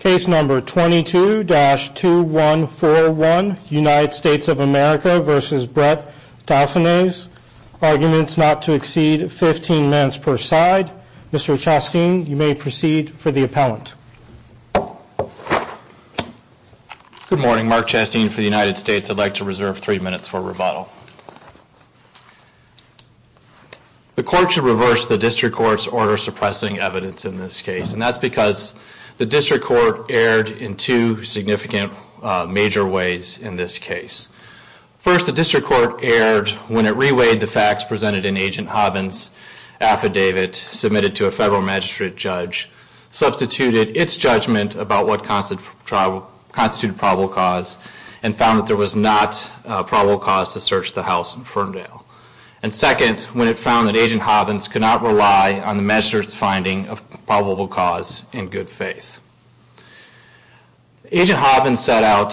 Case number 22-2141, United States of America v. Brett Dauphinais. Arguments not to exceed 15 minutes per side. Mr. Chastin, you may proceed for the appellant. Good morning. Mark Chastin for the United States. I'd like to reserve three minutes for rebuttal. The court should reverse the district court's order suppressing evidence in this case. And that's because the district court erred in two significant major ways in this case. First, the district court erred when it reweighed the facts presented in Agent Hobbins' affidavit submitted to a federal magistrate judge, substituted its judgment about what constituted probable cause, and found that there was not probable cause to search the house in Ferndale. And second, when it found that Agent Hobbins could not rely on the magistrate's finding of probable cause in good faith. Agent Hobbins set out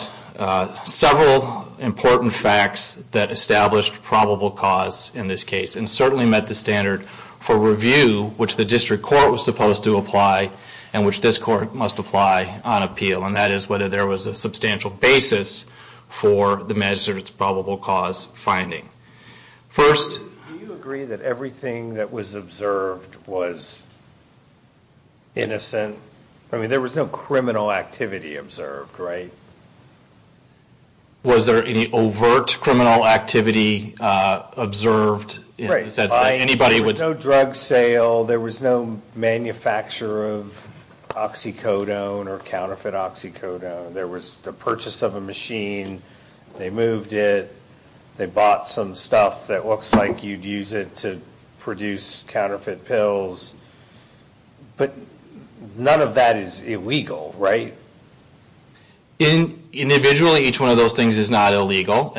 several important facts that established probable cause in this case and certainly met the standard for review which the district court was supposed to apply and which this court must apply on appeal. And that is whether there was a substantial basis for the magistrate's probable cause finding. First- Do you agree that everything that was observed was innocent? I mean, there was no criminal activity observed, right? Was there any overt criminal activity observed? There was no drug sale. There was no manufacture of oxycodone or counterfeit oxycodone. There was the purchase of a machine. They moved it. They bought some stuff that looks like you'd use it to produce counterfeit pills. But none of that is illegal, right? Individually, each one of those things is not illegal,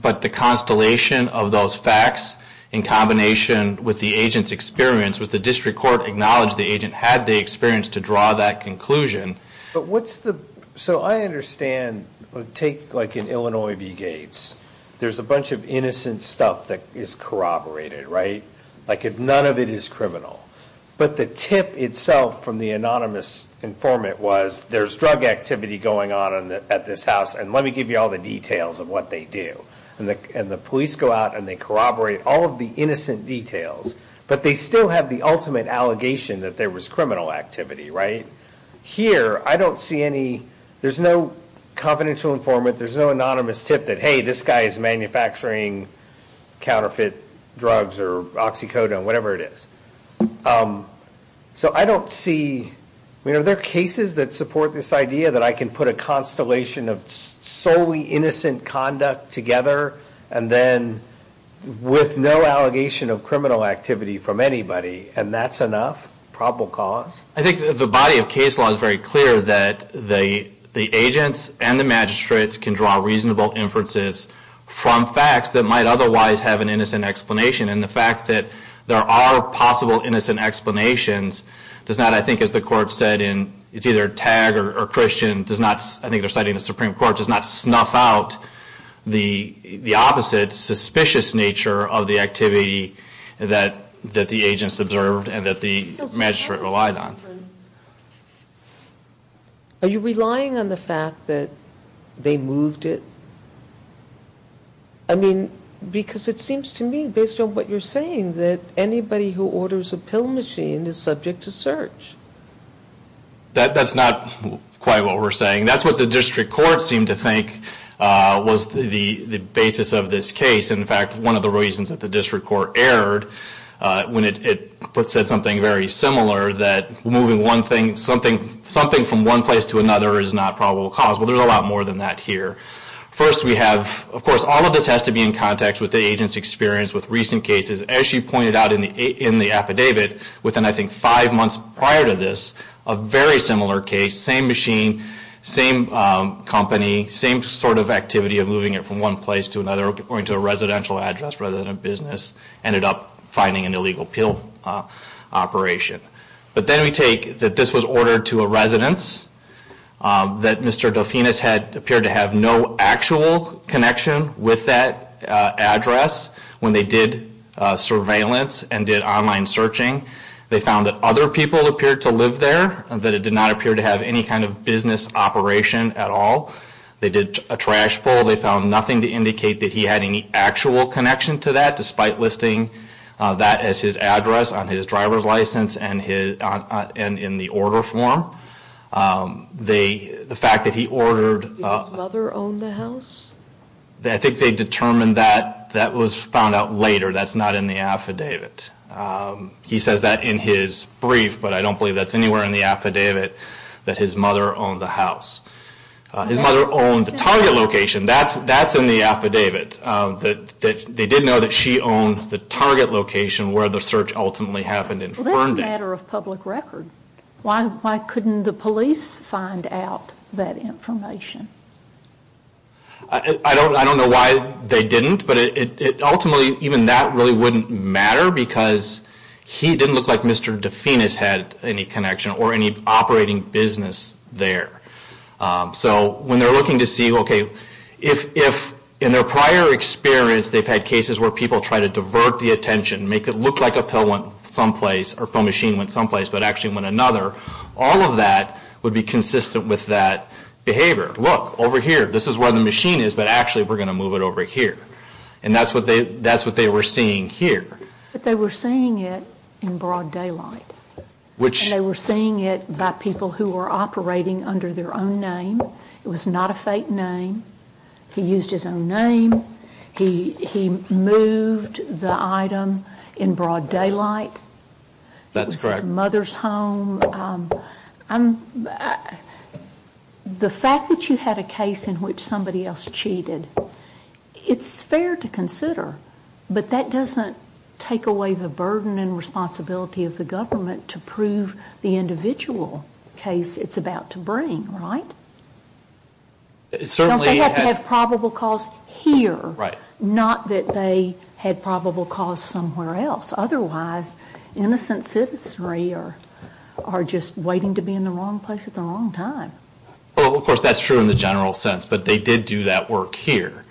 but the constellation of those facts in combination with the agent's experience with the district court acknowledged the agent had the experience to draw that conclusion. So I understand, take like in Illinois v. Gates. There's a bunch of innocent stuff that is corroborated, right? Like none of it is criminal. But the tip itself from the anonymous informant was there's drug activity going on at this house and let me give you all the details of what they do. And the police go out and they corroborate all of the innocent details, but they still have the ultimate allegation that there was criminal activity, right? Here, I don't see any, there's no confidential informant, there's no anonymous tip that, hey, this guy is manufacturing counterfeit drugs or oxycodone, whatever it is. So I don't see, I mean, are there cases that support this idea that I can put a constellation of solely innocent conduct together and then with no allegation of criminal activity from anybody and that's enough, probable cause? I think the body of case law is very clear that the agents and the magistrate can draw reasonable inferences from facts that might otherwise have an innocent explanation. And the fact that there are possible innocent explanations does not, I think as the court said in, it's either Tagg or Christian does not, I think they're citing the Supreme Court, does not snuff out the opposite suspicious nature of the activity that the agents observed and that the magistrate relied on. Are you relying on the fact that they moved it? I mean, because it seems to me, based on what you're saying, that anybody who orders a pill machine is subject to search. That's not quite what we're saying. That's what the district court seemed to think was the basis of this case. In fact, one of the reasons that the district court erred when it said something very similar that moving one thing, something from one place to another is not probable cause. Well, there's a lot more than that here. First, we have, of course, all of this has to be in contact with the agent's experience with recent cases. As she pointed out in the affidavit within, I think, five months prior to this, a very similar case, same machine, same company, same sort of activity of moving it from one place to another, going to a residential address rather than a business, ended up finding an illegal pill operation. But then we take that this was ordered to a residence, that Mr. Delfinis appeared to have no actual connection with that address when they did surveillance and did online searching. They found that other people appeared to live there, that it did not appear to have any kind of business operation at all. They did a trash pull. They found nothing to indicate that he had any actual connection to that, despite listing that as his address on his driver's license and in the order form. The fact that he ordered... Did his mother own the house? I think they determined that. That was found out later. That's not in the affidavit. He says that in his brief, but I don't believe that's anywhere in the affidavit, that his mother owned the house. His mother owned the target location. That's in the affidavit. They did know that she owned the target location where the search ultimately happened in Ferndale. That's a matter of public record. Why couldn't the police find out that information? I don't know why they didn't, but ultimately even that really wouldn't matter because he didn't look like Mr. Dufinis had any connection or any operating business there. So when they're looking to see, okay, if in their prior experience they've had cases where people try to divert the attention, make it look like a pill went someplace or a pill machine went someplace, but actually went another, all of that would be consistent with that behavior. Look, over here. This is where the machine is, but actually we're going to move it over here. And that's what they were seeing here. But they were seeing it in broad daylight. And they were seeing it by people who were operating under their own name. It was not a fake name. He used his own name. He moved the item in broad daylight. That's correct. It was his mother's home. The fact that you had a case in which somebody else cheated, it's fair to consider, but that doesn't take away the burden and responsibility of the government to prove the individual case it's about to bring, right? They have probable cause here, not that they had probable cause somewhere else. Otherwise, innocent citizenry are just waiting to be in the wrong place at the wrong time. Well, of course, that's true in the general sense, but they did do that work here.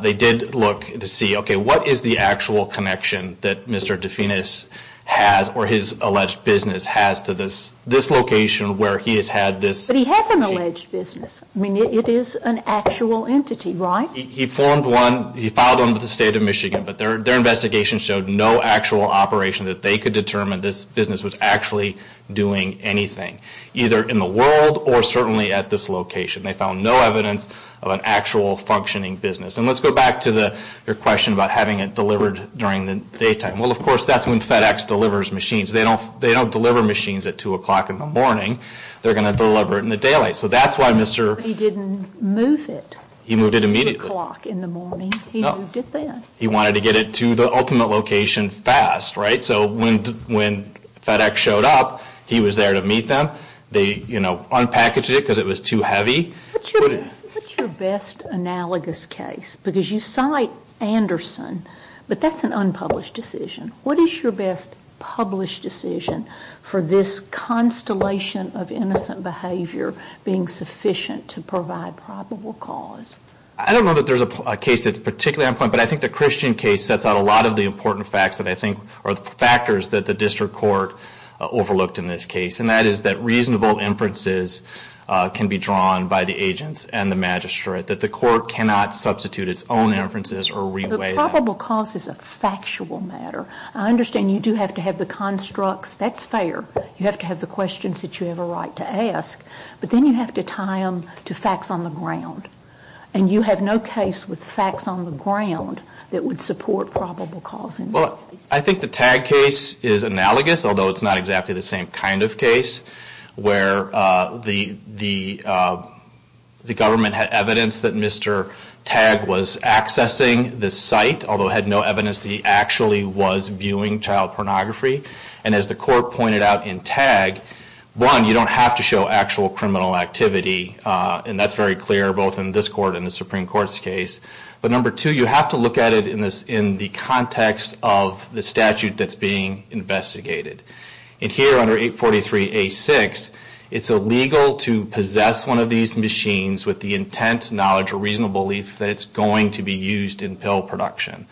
They did look to see, okay, what is the actual connection that Mr. Dufinis has or his alleged business has to this location where he has had this machine. But he has an alleged business. I mean, it is an actual entity, right? He formed one. He filed under the state of Michigan, but their investigation showed no actual operation that they could determine this business was actually doing anything, either in the world or certainly at this location. They found no evidence of an actual functioning business. And let's go back to your question about having it delivered during the daytime. Well, of course, that's when FedEx delivers machines. They don't deliver machines at 2 o'clock in the morning. They're going to deliver it in the daylight. So that's why Mr. He didn't move it. He moved it immediately. 2 o'clock in the morning. He moved it then. He wanted to get it to the ultimate location fast, right? So when FedEx showed up, he was there to meet them. They, you know, unpackaged it because it was too heavy. What's your best analogous case? Because you cite Anderson, but that's an unpublished decision. What is your best published decision for this constellation of innocent behavior being sufficient to provide probable cause? I don't know that there's a case that's particularly on point, but I think the Christian case sets out a lot of the important facts that I think are the factors that the district court overlooked in this case, and that is that reasonable inferences can be drawn by the agents and the magistrate, that the court cannot substitute its own inferences or reweigh them. But probable cause is a factual matter. I understand you do have to have the constructs. That's fair. You have to have the questions that you have a right to ask, but then you have to tie them to facts on the ground. And you have no case with facts on the ground that would support probable cause in this case. Well, I think the Tagg case is analogous, although it's not exactly the same kind of case, where the government had evidence that Mr. Tagg was accessing this site, although it had no evidence that he actually was viewing child pornography. And as the court pointed out in Tagg, one, you don't have to show actual criminal activity, and that's very clear both in this court and the Supreme Court's case. But number two, you have to look at it in the context of the statute that's being investigated. And here under 843A6, it's illegal to possess one of these machines with the intent, knowledge, or reasonable belief that it's going to be used in pill production.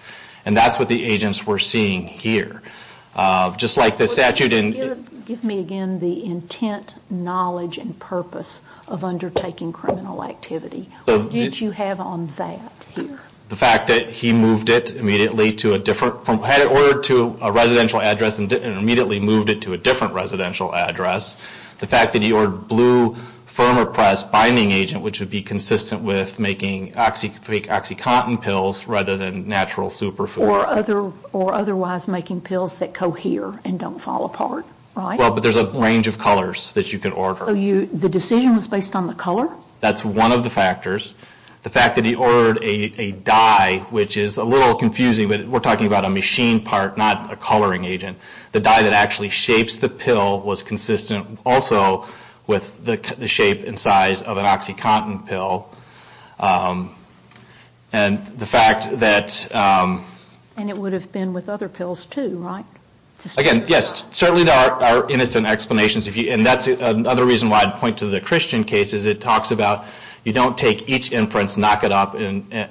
And that's what the agents were seeing here. Just like the statute in... Give me again the intent, knowledge, and purpose of undertaking criminal activity. What did you have on that here? The fact that he moved it immediately to a different... Had it ordered to a residential address and immediately moved it to a different residential address. The fact that he ordered blue Firmopress binding agent, which would be consistent with making OxyContin pills rather than natural superfood. Or otherwise making pills that cohere and don't fall apart, right? Well, but there's a range of colors that you can order. So the decision was based on the color? That's one of the factors. The fact that he ordered a dye, which is a little confusing, but we're talking about a machine part, not a coloring agent. The dye that actually shapes the pill was consistent also with the shape and size of an OxyContin pill. And the fact that... And it would have been with other pills too, right? Again, yes, certainly there are innocent explanations. And that's another reason why I'd point to the Christian cases. It talks about you don't take each inference, knock it up,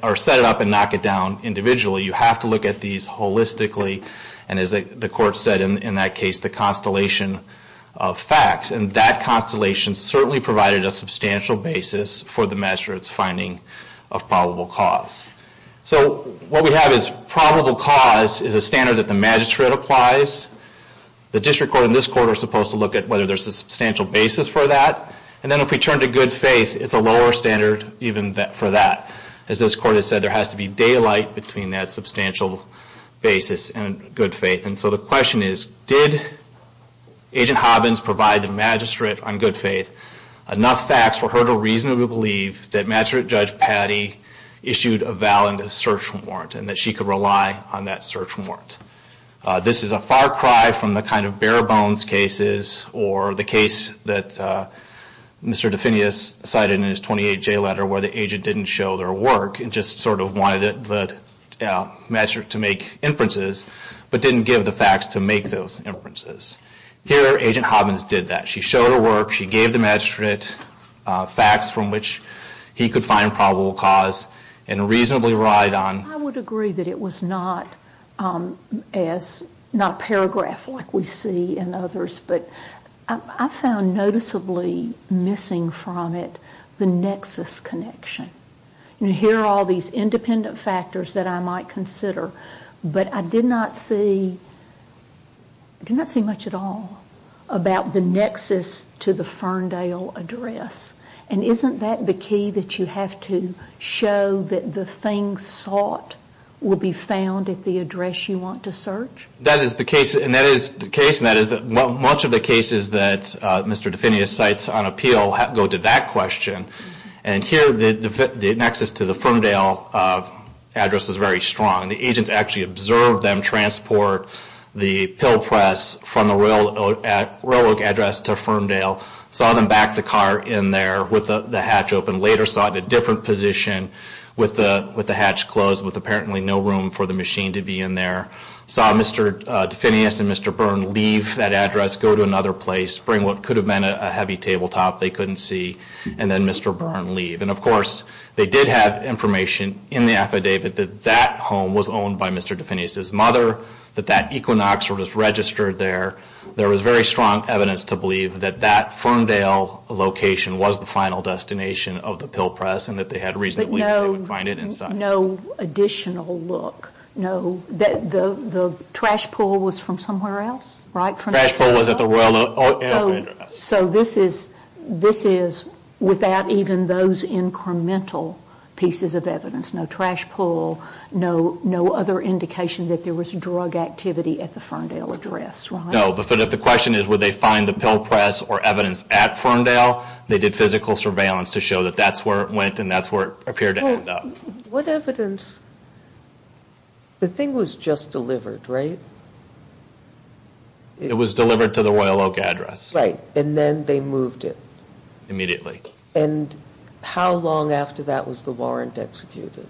or set it up and knock it down individually. You have to look at these holistically. And as the court said in that case, the constellation of facts. And that constellation certainly provided a substantial basis for the magistrate's finding of probable cause. So what we have is probable cause is a standard that the magistrate applies. The district court and this court are supposed to look at whether there's a substantial basis for that. And then if we turn to good faith, it's a lower standard even for that. As this court has said, there has to be daylight between that substantial basis and good faith. And so the question is, did Agent Hobbins provide the magistrate on good faith enough facts for her to reasonably believe that Magistrate Judge Patty issued a valid search warrant and that she could rely on that search warrant? This is a far cry from the kind of bare bones cases or the case that Mr. Defenius cited in his 28-J letter where the agent didn't show their work and just sort of wanted the magistrate to make inferences but didn't give the facts to make those inferences. Here, Agent Hobbins did that. She showed her work. She gave the magistrate facts from which he could find probable cause and reasonably relied on... I would agree that it was not a paragraph like we see in others, but I found noticeably missing from it the nexus connection. Here are all these independent factors that I might consider, but I did not see much at all about the nexus to the Ferndale address. And isn't that the key, that you have to show that the things sought will be found at the address you want to search? That is the case, and that is much of the cases that Mr. Defenius cites on appeal go to that question. And here the nexus to the Ferndale address was very strong. The agents actually observed them transport the pill press from the railroad address to Ferndale, saw them back the car in there with the hatch open, later saw it in a different position with the hatch closed with apparently no room for the machine to be in there, saw Mr. Defenius and Mr. Byrne leave that address, go to another place, bring what could have been a heavy tabletop they couldn't see, and then Mr. Byrne leave. And, of course, they did have information in the affidavit that that home was owned by Mr. Defenius' mother, that that equinox was registered there. There was very strong evidence to believe that that Ferndale location was the final destination of the pill press and that they had reason to believe that they would find it inside. But no additional look. The trash pull was from somewhere else, right? The trash pull was at the railroad address. So this is without even those incremental pieces of evidence, no trash pull, no other indication that there was drug activity at the Ferndale address, right? No, but if the question is would they find the pill press or evidence at Ferndale, they did physical surveillance to show that that's where it went and that's where it appeared to end up. What evidence? The thing was just delivered, right? It was delivered to the Royal Oak address. Right, and then they moved it. And how long after that was the warrant executed?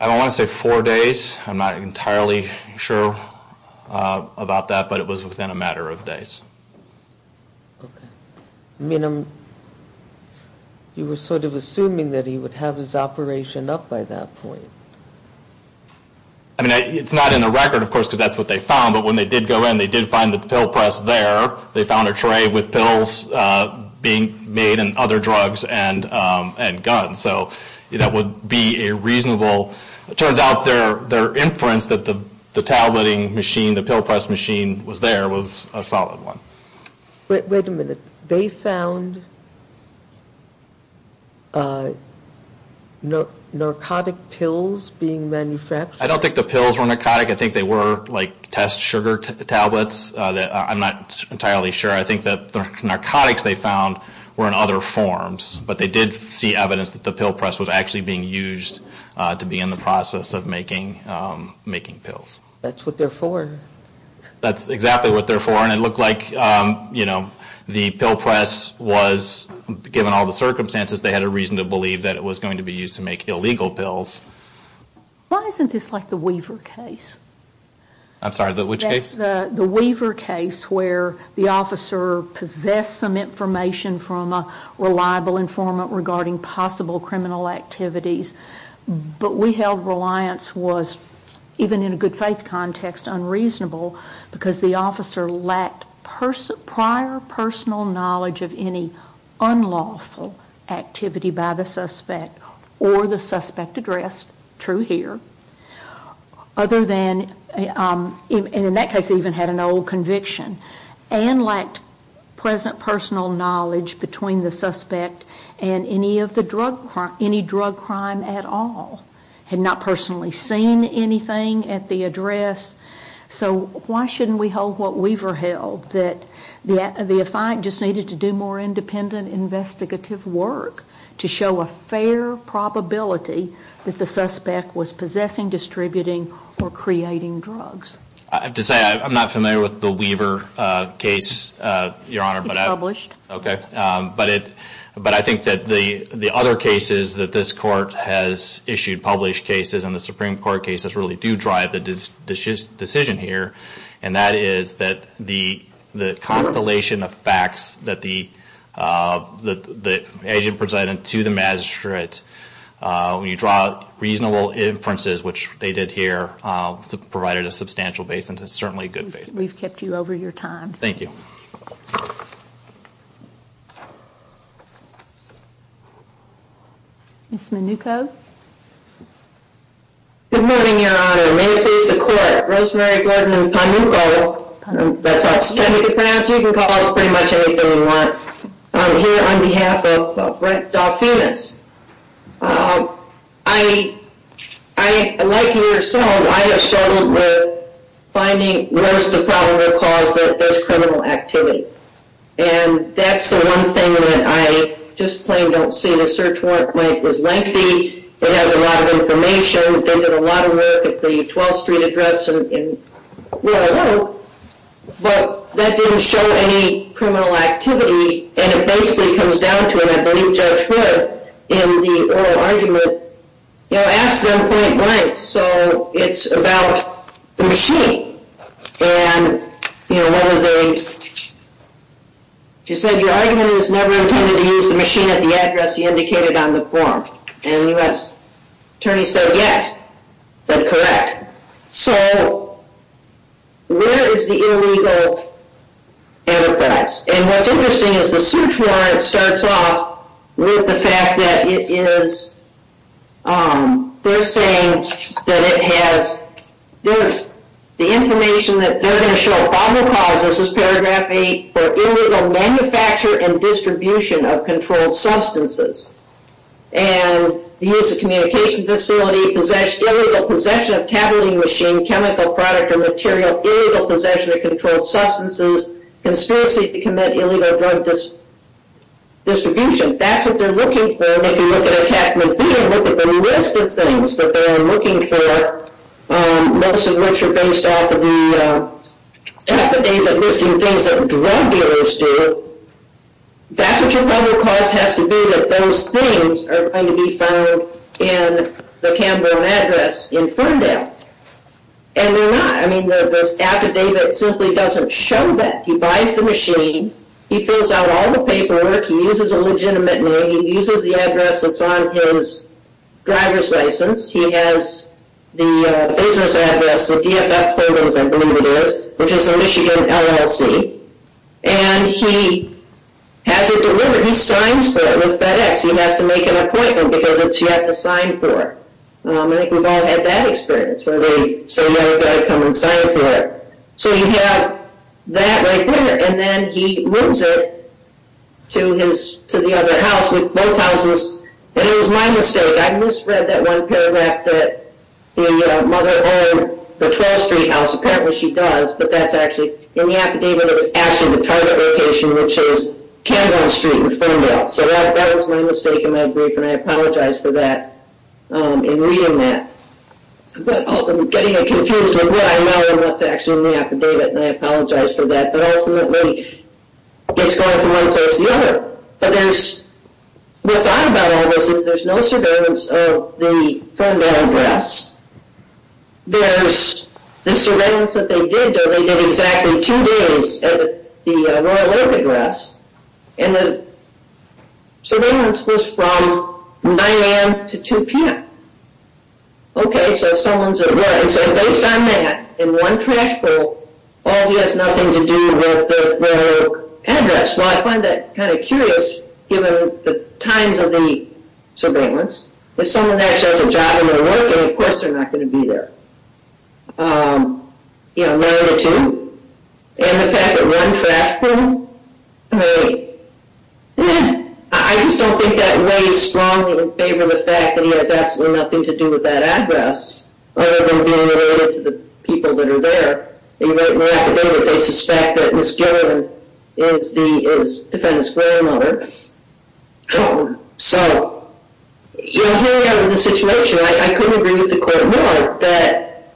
I don't want to say four days. I'm not entirely sure about that, but it was within a matter of days. Okay. I mean, you were sort of assuming that he would have his operation up by that point. I mean, it's not in the record, of course, because that's what they found. But when they did go in, they did find the pill press there. They found a tray with pills being made and other drugs and guns. So that would be a reasonable. It turns out their inference that the tabletting machine, the pill press machine was there, was a solid one. Wait a minute. They found narcotic pills being manufactured? I don't think the pills were narcotic. I think they were like test sugar tablets. I'm not entirely sure. I think that the narcotics they found were in other forms. But they did see evidence that the pill press was actually being used to begin the process of making pills. That's what they're for. That's exactly what they're for. And it looked like, you know, the pill press was, given all the circumstances, they had a reason to believe that it was going to be used to make illegal pills. Why isn't this like the Weaver case? I'm sorry, which case? It's the Weaver case where the officer possessed some information from a reliable informant regarding possible criminal activities. But we held reliance was, even in a good faith context, unreasonable because the officer lacked prior personal knowledge of any unlawful activity by the suspect or the suspect addressed, true here. Other than, and in that case he even had an old conviction, and lacked present personal knowledge between the suspect and any drug crime at all. Had not personally seen anything at the address. So why shouldn't we hold what Weaver held, that the defiant just needed to do more independent investigative work to show a fair probability that the suspect was possessing, distributing, or creating drugs. I have to say, I'm not familiar with the Weaver case, Your Honor. It's published. Okay. But I think that the other cases that this court has issued, published cases, and the Supreme Court cases really do drive the decision here. And that is that the constellation of facts that the agent presented to the magistrate, when you draw reasonable inferences, which they did here, provided a substantial basis. It's certainly good faith. We've kept you over your time. Thank you. Ms. Minucco. Good morning, Your Honor. May it please the Court. Rosemary Gordon and Pam Minucco. That's how it's trying to be pronounced. You can call us pretty much anything you want. I'm here on behalf of Brent Dolphinus. I, like you yourselves, I have struggled with finding where's the problem that caused those criminal activity. And that's the one thing that I just plain don't see. The search warrant was lengthy. It has a lot of information. They did a lot of work at the 12th Street address and where I live. But that didn't show any criminal activity. And it basically comes down to, and I believe Judge Hood, in the oral argument, you know, asked them point blank. So it's about the machine. And, you know, one of the, she said, your argument is never intended to use the machine at the address you indicated on the form. And the U.S. Attorney said, yes, that's correct. So where is the illegal antithreats? And what's interesting is the search warrant starts off with the fact that it is, they're saying that it has, the information that they're going to show, problem causes is paragraph 8, for illegal manufacture and distribution of controlled substances. And the use of communication facility, possession of tabulating machine, chemical product or material, illegal possession of controlled substances, conspiracy to commit illegal drug distribution. That's what they're looking for. And if you look at Attachment B and look at the list of things that they're looking for, most of which are based off of the affidavit listing things that drug dealers do, that's what your problem cause has to be, that those things are going to be found in the Cambone address in Ferndale. And they're not. I mean, the affidavit simply doesn't show that. He buys the machine. He fills out all the paperwork. He uses a legitimate name. He uses the address that's on his driver's license. He has the business address, the DFF programs, I believe it is, which is the Michigan LLC. And he has it delivered. He signs for it with FedEx. He has to make an appointment because it's yet to sign for. I think we've all had that experience where they say, you've got to come and sign for it. So you have that right there. And then he moves it to the other house, with both houses. And it was my mistake. I misread that one paragraph that the mother owned the 12th Street house. Apparently she does. But that's actually, in the affidavit, it was actually the target location, which is Cambone Street in Ferndale. So that was my mistake in my brief, and I apologize for that in reading that. But ultimately, getting confused with what I know and what's actually in the affidavit, and I apologize for that. But ultimately, it's going from one place to the other. But what's odd about all this is there's no surveillance of the Ferndale address. There's the surveillance that they did, though they did exactly two days at the Royal Oak address. And the surveillance was from 9 a.m. to 2 p.m. Okay, so someone's at work. And so based on that, in one trash bowl, all of you has nothing to do with the Royal Oak address. Well, I find that kind of curious, given the times of the surveillance. If someone actually has a job and they're working, then, of course, they're not going to be there. You know, none of the two. And the fact that one trash bowl, I mean, I just don't think that weighs strongly in favor of the fact that he has absolutely nothing to do with that address, other than being related to the people that are there. In the affidavit, they suspect that Ms. Gilliland is the defendant's grandmother. So, you know, here we are with the situation. I couldn't agree with the court more that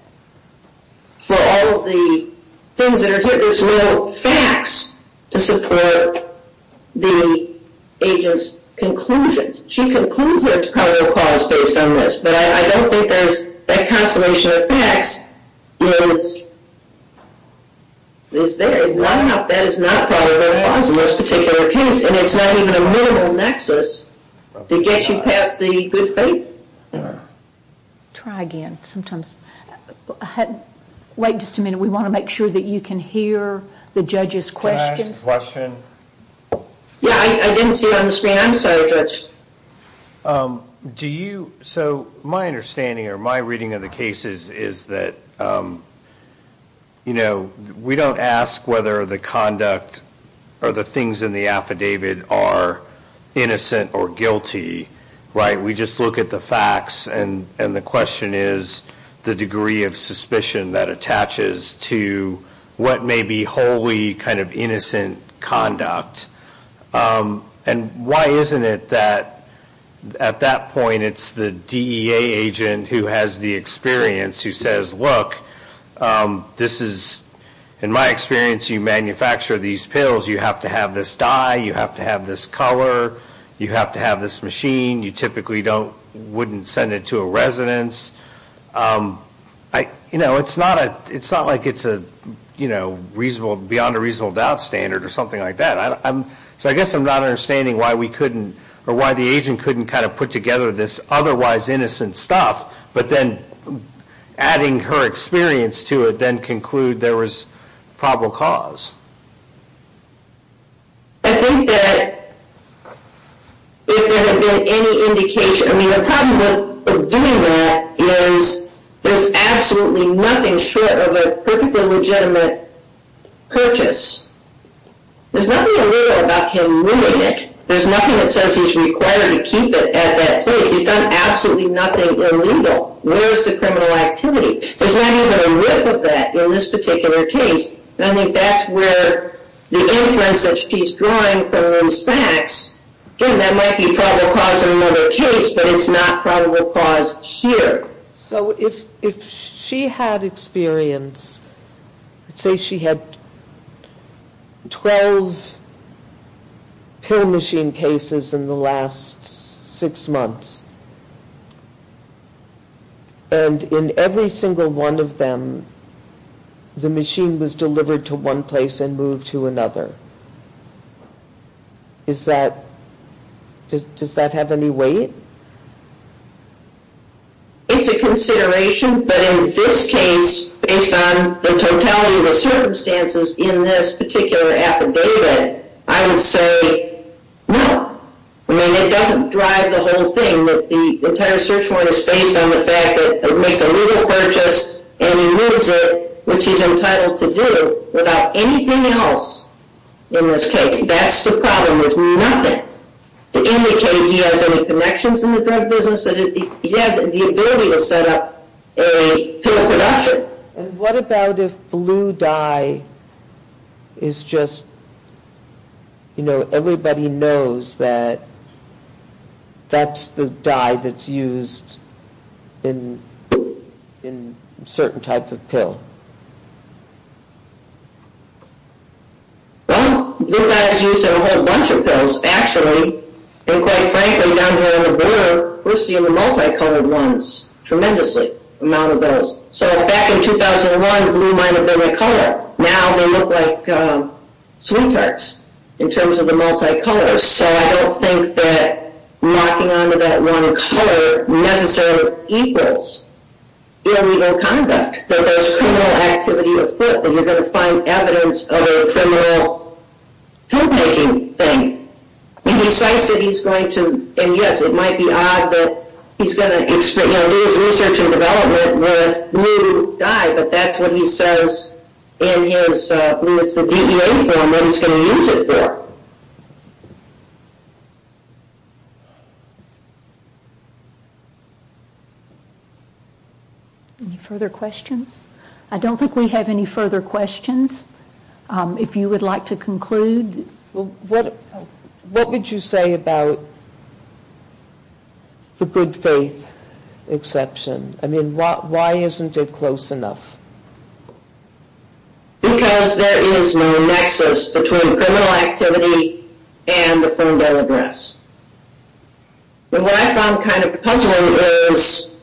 for all of the things that are here, there's no facts to support the agent's conclusions. She concludes there's probably no cause based on this. But I don't think that consternation of facts is there. That is not part of what it was in this particular case. And it's not even a minimal nexus to get you past the good faith. Try again, sometimes. Wait just a minute. We want to make sure that you can hear the judge's questions. Can I ask a question? Yeah, I didn't see it on the screen. I'm sorry, Judge. So my understanding or my reading of the case is that, you know, we don't ask whether the conduct or the things in the affidavit are innocent or guilty, right? We just look at the facts. And the question is the degree of suspicion that attaches to what may be wholly kind of innocent conduct. And why isn't it that at that point it's the DEA agent who has the experience who says, look, this is, in my experience, you manufacture these pills. You have to have this dye. You have to have this color. You have to have this machine. You typically don't, wouldn't send it to a residence. You know, it's not like it's a, you know, beyond a reasonable doubt standard or something like that. So I guess I'm not understanding why we couldn't or why the agent couldn't kind of put together this otherwise innocent stuff. But then adding her experience to it, then conclude there was probable cause. I think that if there had been any indication, I mean, the problem with doing that is there's absolutely nothing short of a perfectly legitimate purchase. There's nothing illegal about him moving it. There's nothing that says he's required to keep it at that place. He's done absolutely nothing illegal. Where's the criminal activity? There's not even a rift of that in this particular case. And I think that's where the inference that she's drawing comes back. Again, that might be probable cause in another case, but it's not probable cause here. So if she had experience, say she had 12 pill machine cases in the last six months. And in every single one of them, the machine was delivered to one place and moved to another. Does that have any weight? It's a consideration, but in this case, based on the totality of the circumstances in this particular affidavit, I would say no. I mean, it doesn't drive the whole thing. The entire search warrant is based on the fact that it makes a legal purchase and he moves it, which he's entitled to do without anything else in this case. That's the problem. There's nothing to indicate he has any connections in the drug business. He has the ability to set up a pill production. And what about if blue dye is just, you know, everybody knows that that's the dye that's used in certain type of pill? Well, blue dye is used in a whole bunch of pills, actually. And quite frankly, down here on the border, we're seeing the multicolored ones tremendously, amount of those. So back in 2001, blue might have been the color. Now they look like sweet tarts in terms of the multicolors. So I don't think that locking on to that one color necessarily equals illegal conduct, that there's criminal activity afoot, that you're going to find evidence of a criminal pill-making thing. And yes, it might be odd, but he's going to do his research and development with blue dye, but that's what he says in his DBA form that he's going to use it for. Any further questions? I don't think we have any further questions. If you would like to conclude. What would you say about the good faith exception? I mean, why isn't it close enough? Because there is no nexus between criminal activity and the phone bill address. And what I found kind of puzzling is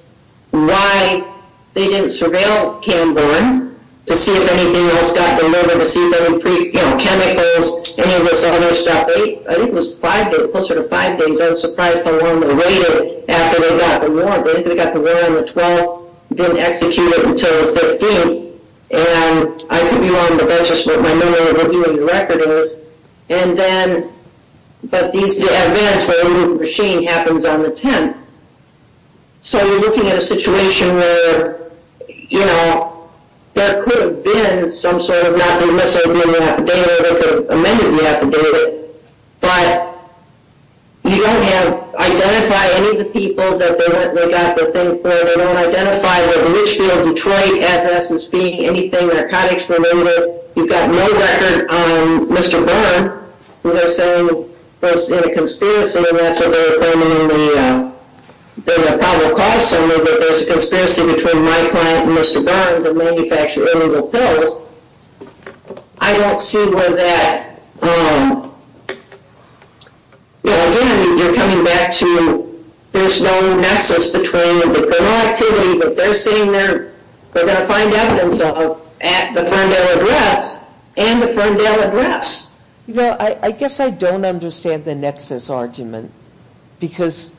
why they didn't surveil Camborne to see if anything else got delivered, to see if there were chemicals, any of this other stuff. I think it was closer to five days. I was surprised how long later, after they got the warrant. I think they got the warrant on the 12th, didn't execute it until the 15th. And I could be wrong, but that's just what my memory of reviewing the record is. But the advance for the machine happens on the 10th. So you're looking at a situation where, you know, there could have been some sort of not-for-miss argument in the affidavit, or they could have amended the affidavit, but you don't identify any of the people that they got the thing for. They don't identify the Richfield, Detroit address as being anything narcotics. Remember, you've got no record on Mr. Byrne. They're saying it was in a conspiracy, and that's what they're claiming in the probable cause summary, that there's a conspiracy between my client and Mr. Byrne to manufacture illegal pills. I don't see where that – again, you're coming back to there's no nexus between the criminal activity that they're saying they're going to find evidence of at the Ferndale address and the Ferndale address. You know, I guess I don't understand the nexus argument, because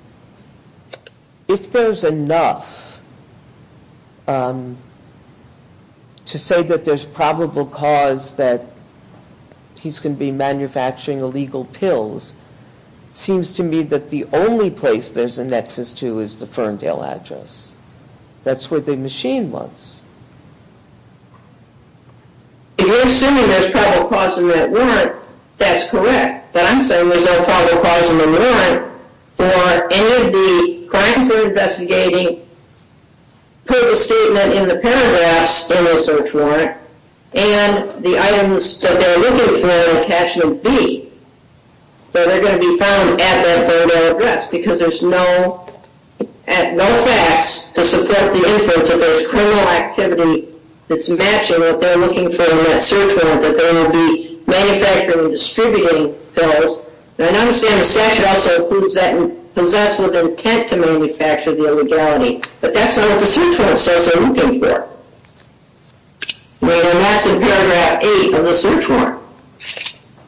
if there's enough to say that there's probable cause that he's going to be manufacturing illegal pills, it seems to me that the only place there's a nexus to is the Ferndale address. That's where the machine was. If you're assuming there's probable cause in that warrant, that's correct. But I'm saying there's no probable cause in the warrant for any of the clients that are investigating put the statement in the paragraphs in the search warrant, and the items that they're looking for in Attachment B, that are going to be found at that Ferndale address, because there's no facts to support the inference that there's criminal activity that's matching what they're looking for in that search warrant, that they will be manufacturing and distributing pills. And I understand the statute also includes that and possess with intent to manufacture the illegality, but that's not what the search warrant says they're looking for. And that's in paragraph 8 of the search warrant.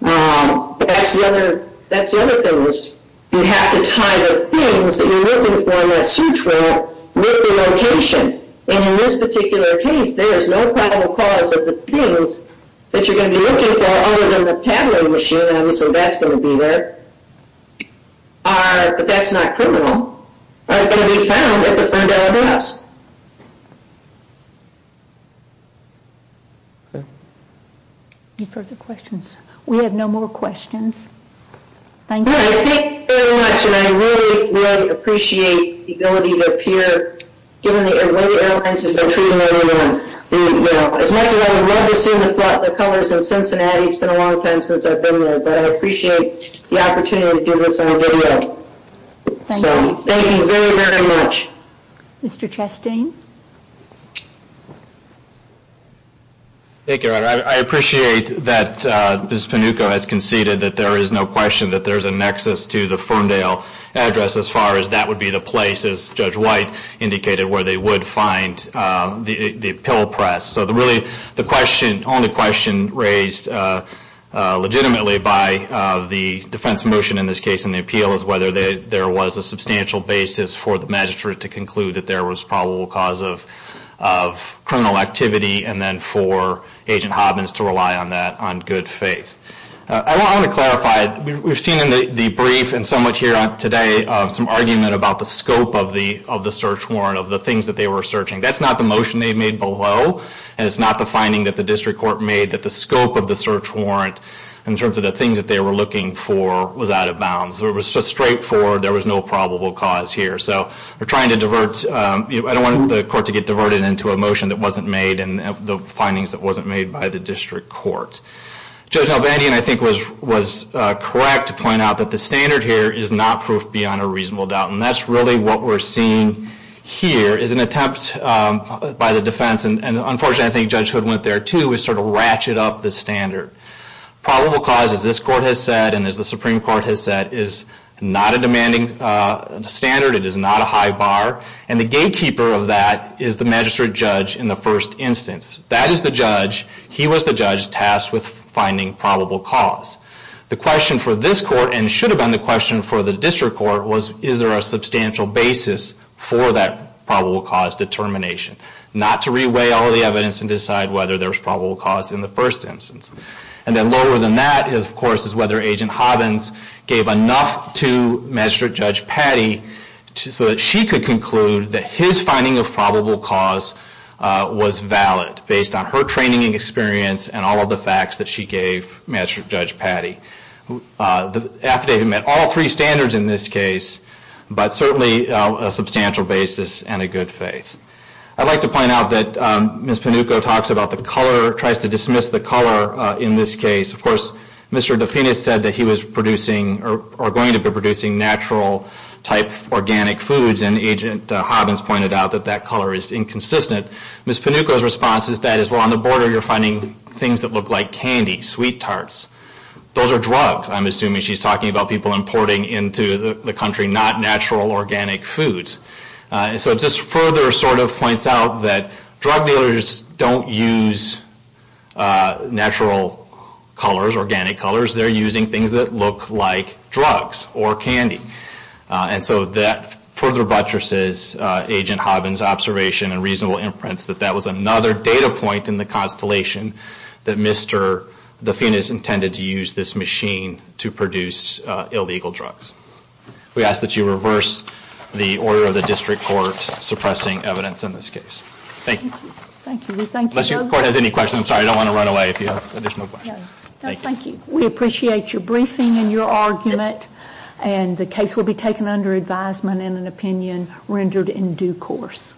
But that's the other thing, which you have to tie the things that you're looking for in that search warrant with the location. And in this particular case, there's no probable cause that the things that you're going to be looking for, other than the paddling machine, I mean, so that's going to be there, but that's not criminal, are going to be found at the Ferndale address. Any further questions? We have no more questions. Thank you. I thank you very much, and I really, really appreciate the ability to appear, given the way the airlines have been treating everyone. As much as I would love to see the colors in Cincinnati, it's been a long time since I've been there, but I appreciate the opportunity to give this on video. Thank you very, very much. Mr. Chastain? Thank you, Your Honor. I appreciate that Ms. Panucco has conceded that there is no question that there's a nexus to the Ferndale address, as far as that would be the place, as Judge White indicated, where they would find the pill press. So really, the only question raised legitimately by the defense motion, in this case in the appeal, is whether there was a substantial basis for the magistrate to conclude that there was probable cause of criminal activity, and then for Agent Hobbins to rely on that on good faith. I want to clarify, we've seen in the brief and somewhat here today, some argument about the scope of the search warrant, of the things that they were searching. That's not the motion they made below, and it's not the finding that the district court made that the scope of the search warrant, in terms of the things that they were looking for, was out of bounds. It was just straightforward. There was no probable cause here. So we're trying to divert. I don't want the court to get diverted into a motion that wasn't made and the findings that wasn't made by the district court. Judge Albandian, I think, was correct to point out that the standard here is not proof beyond a reasonable doubt, and that's really what we're seeing here, is an attempt by the defense, and unfortunately, I think Judge Hood went there too, to sort of ratchet up the standard. Probable cause, as this court has said, and as the Supreme Court has said, is not a demanding standard. It is not a high bar, and the gatekeeper of that is the magistrate judge in the first instance. That is the judge. He was the judge tasked with finding probable cause. The question for this court, and should have been the question for the district court, was is there a substantial basis for that probable cause determination? Not to re-weigh all the evidence and decide whether there was probable cause in the first instance. And then lower than that, of course, is whether Agent Hobbins gave enough to Magistrate Judge Patty so that she could conclude that his finding of probable cause was valid, based on her training and experience and all of the facts that she gave Magistrate Judge Patty. The affidavit met all three standards in this case, but certainly a substantial basis and a good faith. I'd like to point out that Ms. Panucco talks about the color, tries to dismiss the color in this case. Of course, Mr. Dufinis said that he was producing or going to be producing natural-type organic foods, and Agent Hobbins pointed out that that color is inconsistent. Ms. Panucco's response is that, well, on the border you're finding things that look like candy, sweet tarts. Those are drugs, I'm assuming. I mean, she's talking about people importing into the country not natural organic foods. And so it just further sort of points out that drug dealers don't use natural colors, organic colors. They're using things that look like drugs or candy. And so that further buttresses Agent Hobbins' observation and reasonable imprints that that was another data point in the constellation that Mr. Dufinis intended to use this machine to produce illegal drugs. We ask that you reverse the order of the district court suppressing evidence in this case. Thank you. Thank you. Unless your court has any questions, I'm sorry, I don't want to run away if you have additional questions. No, thank you. We appreciate your briefing and your argument, and the case will be taken under advisement and an opinion rendered in due course.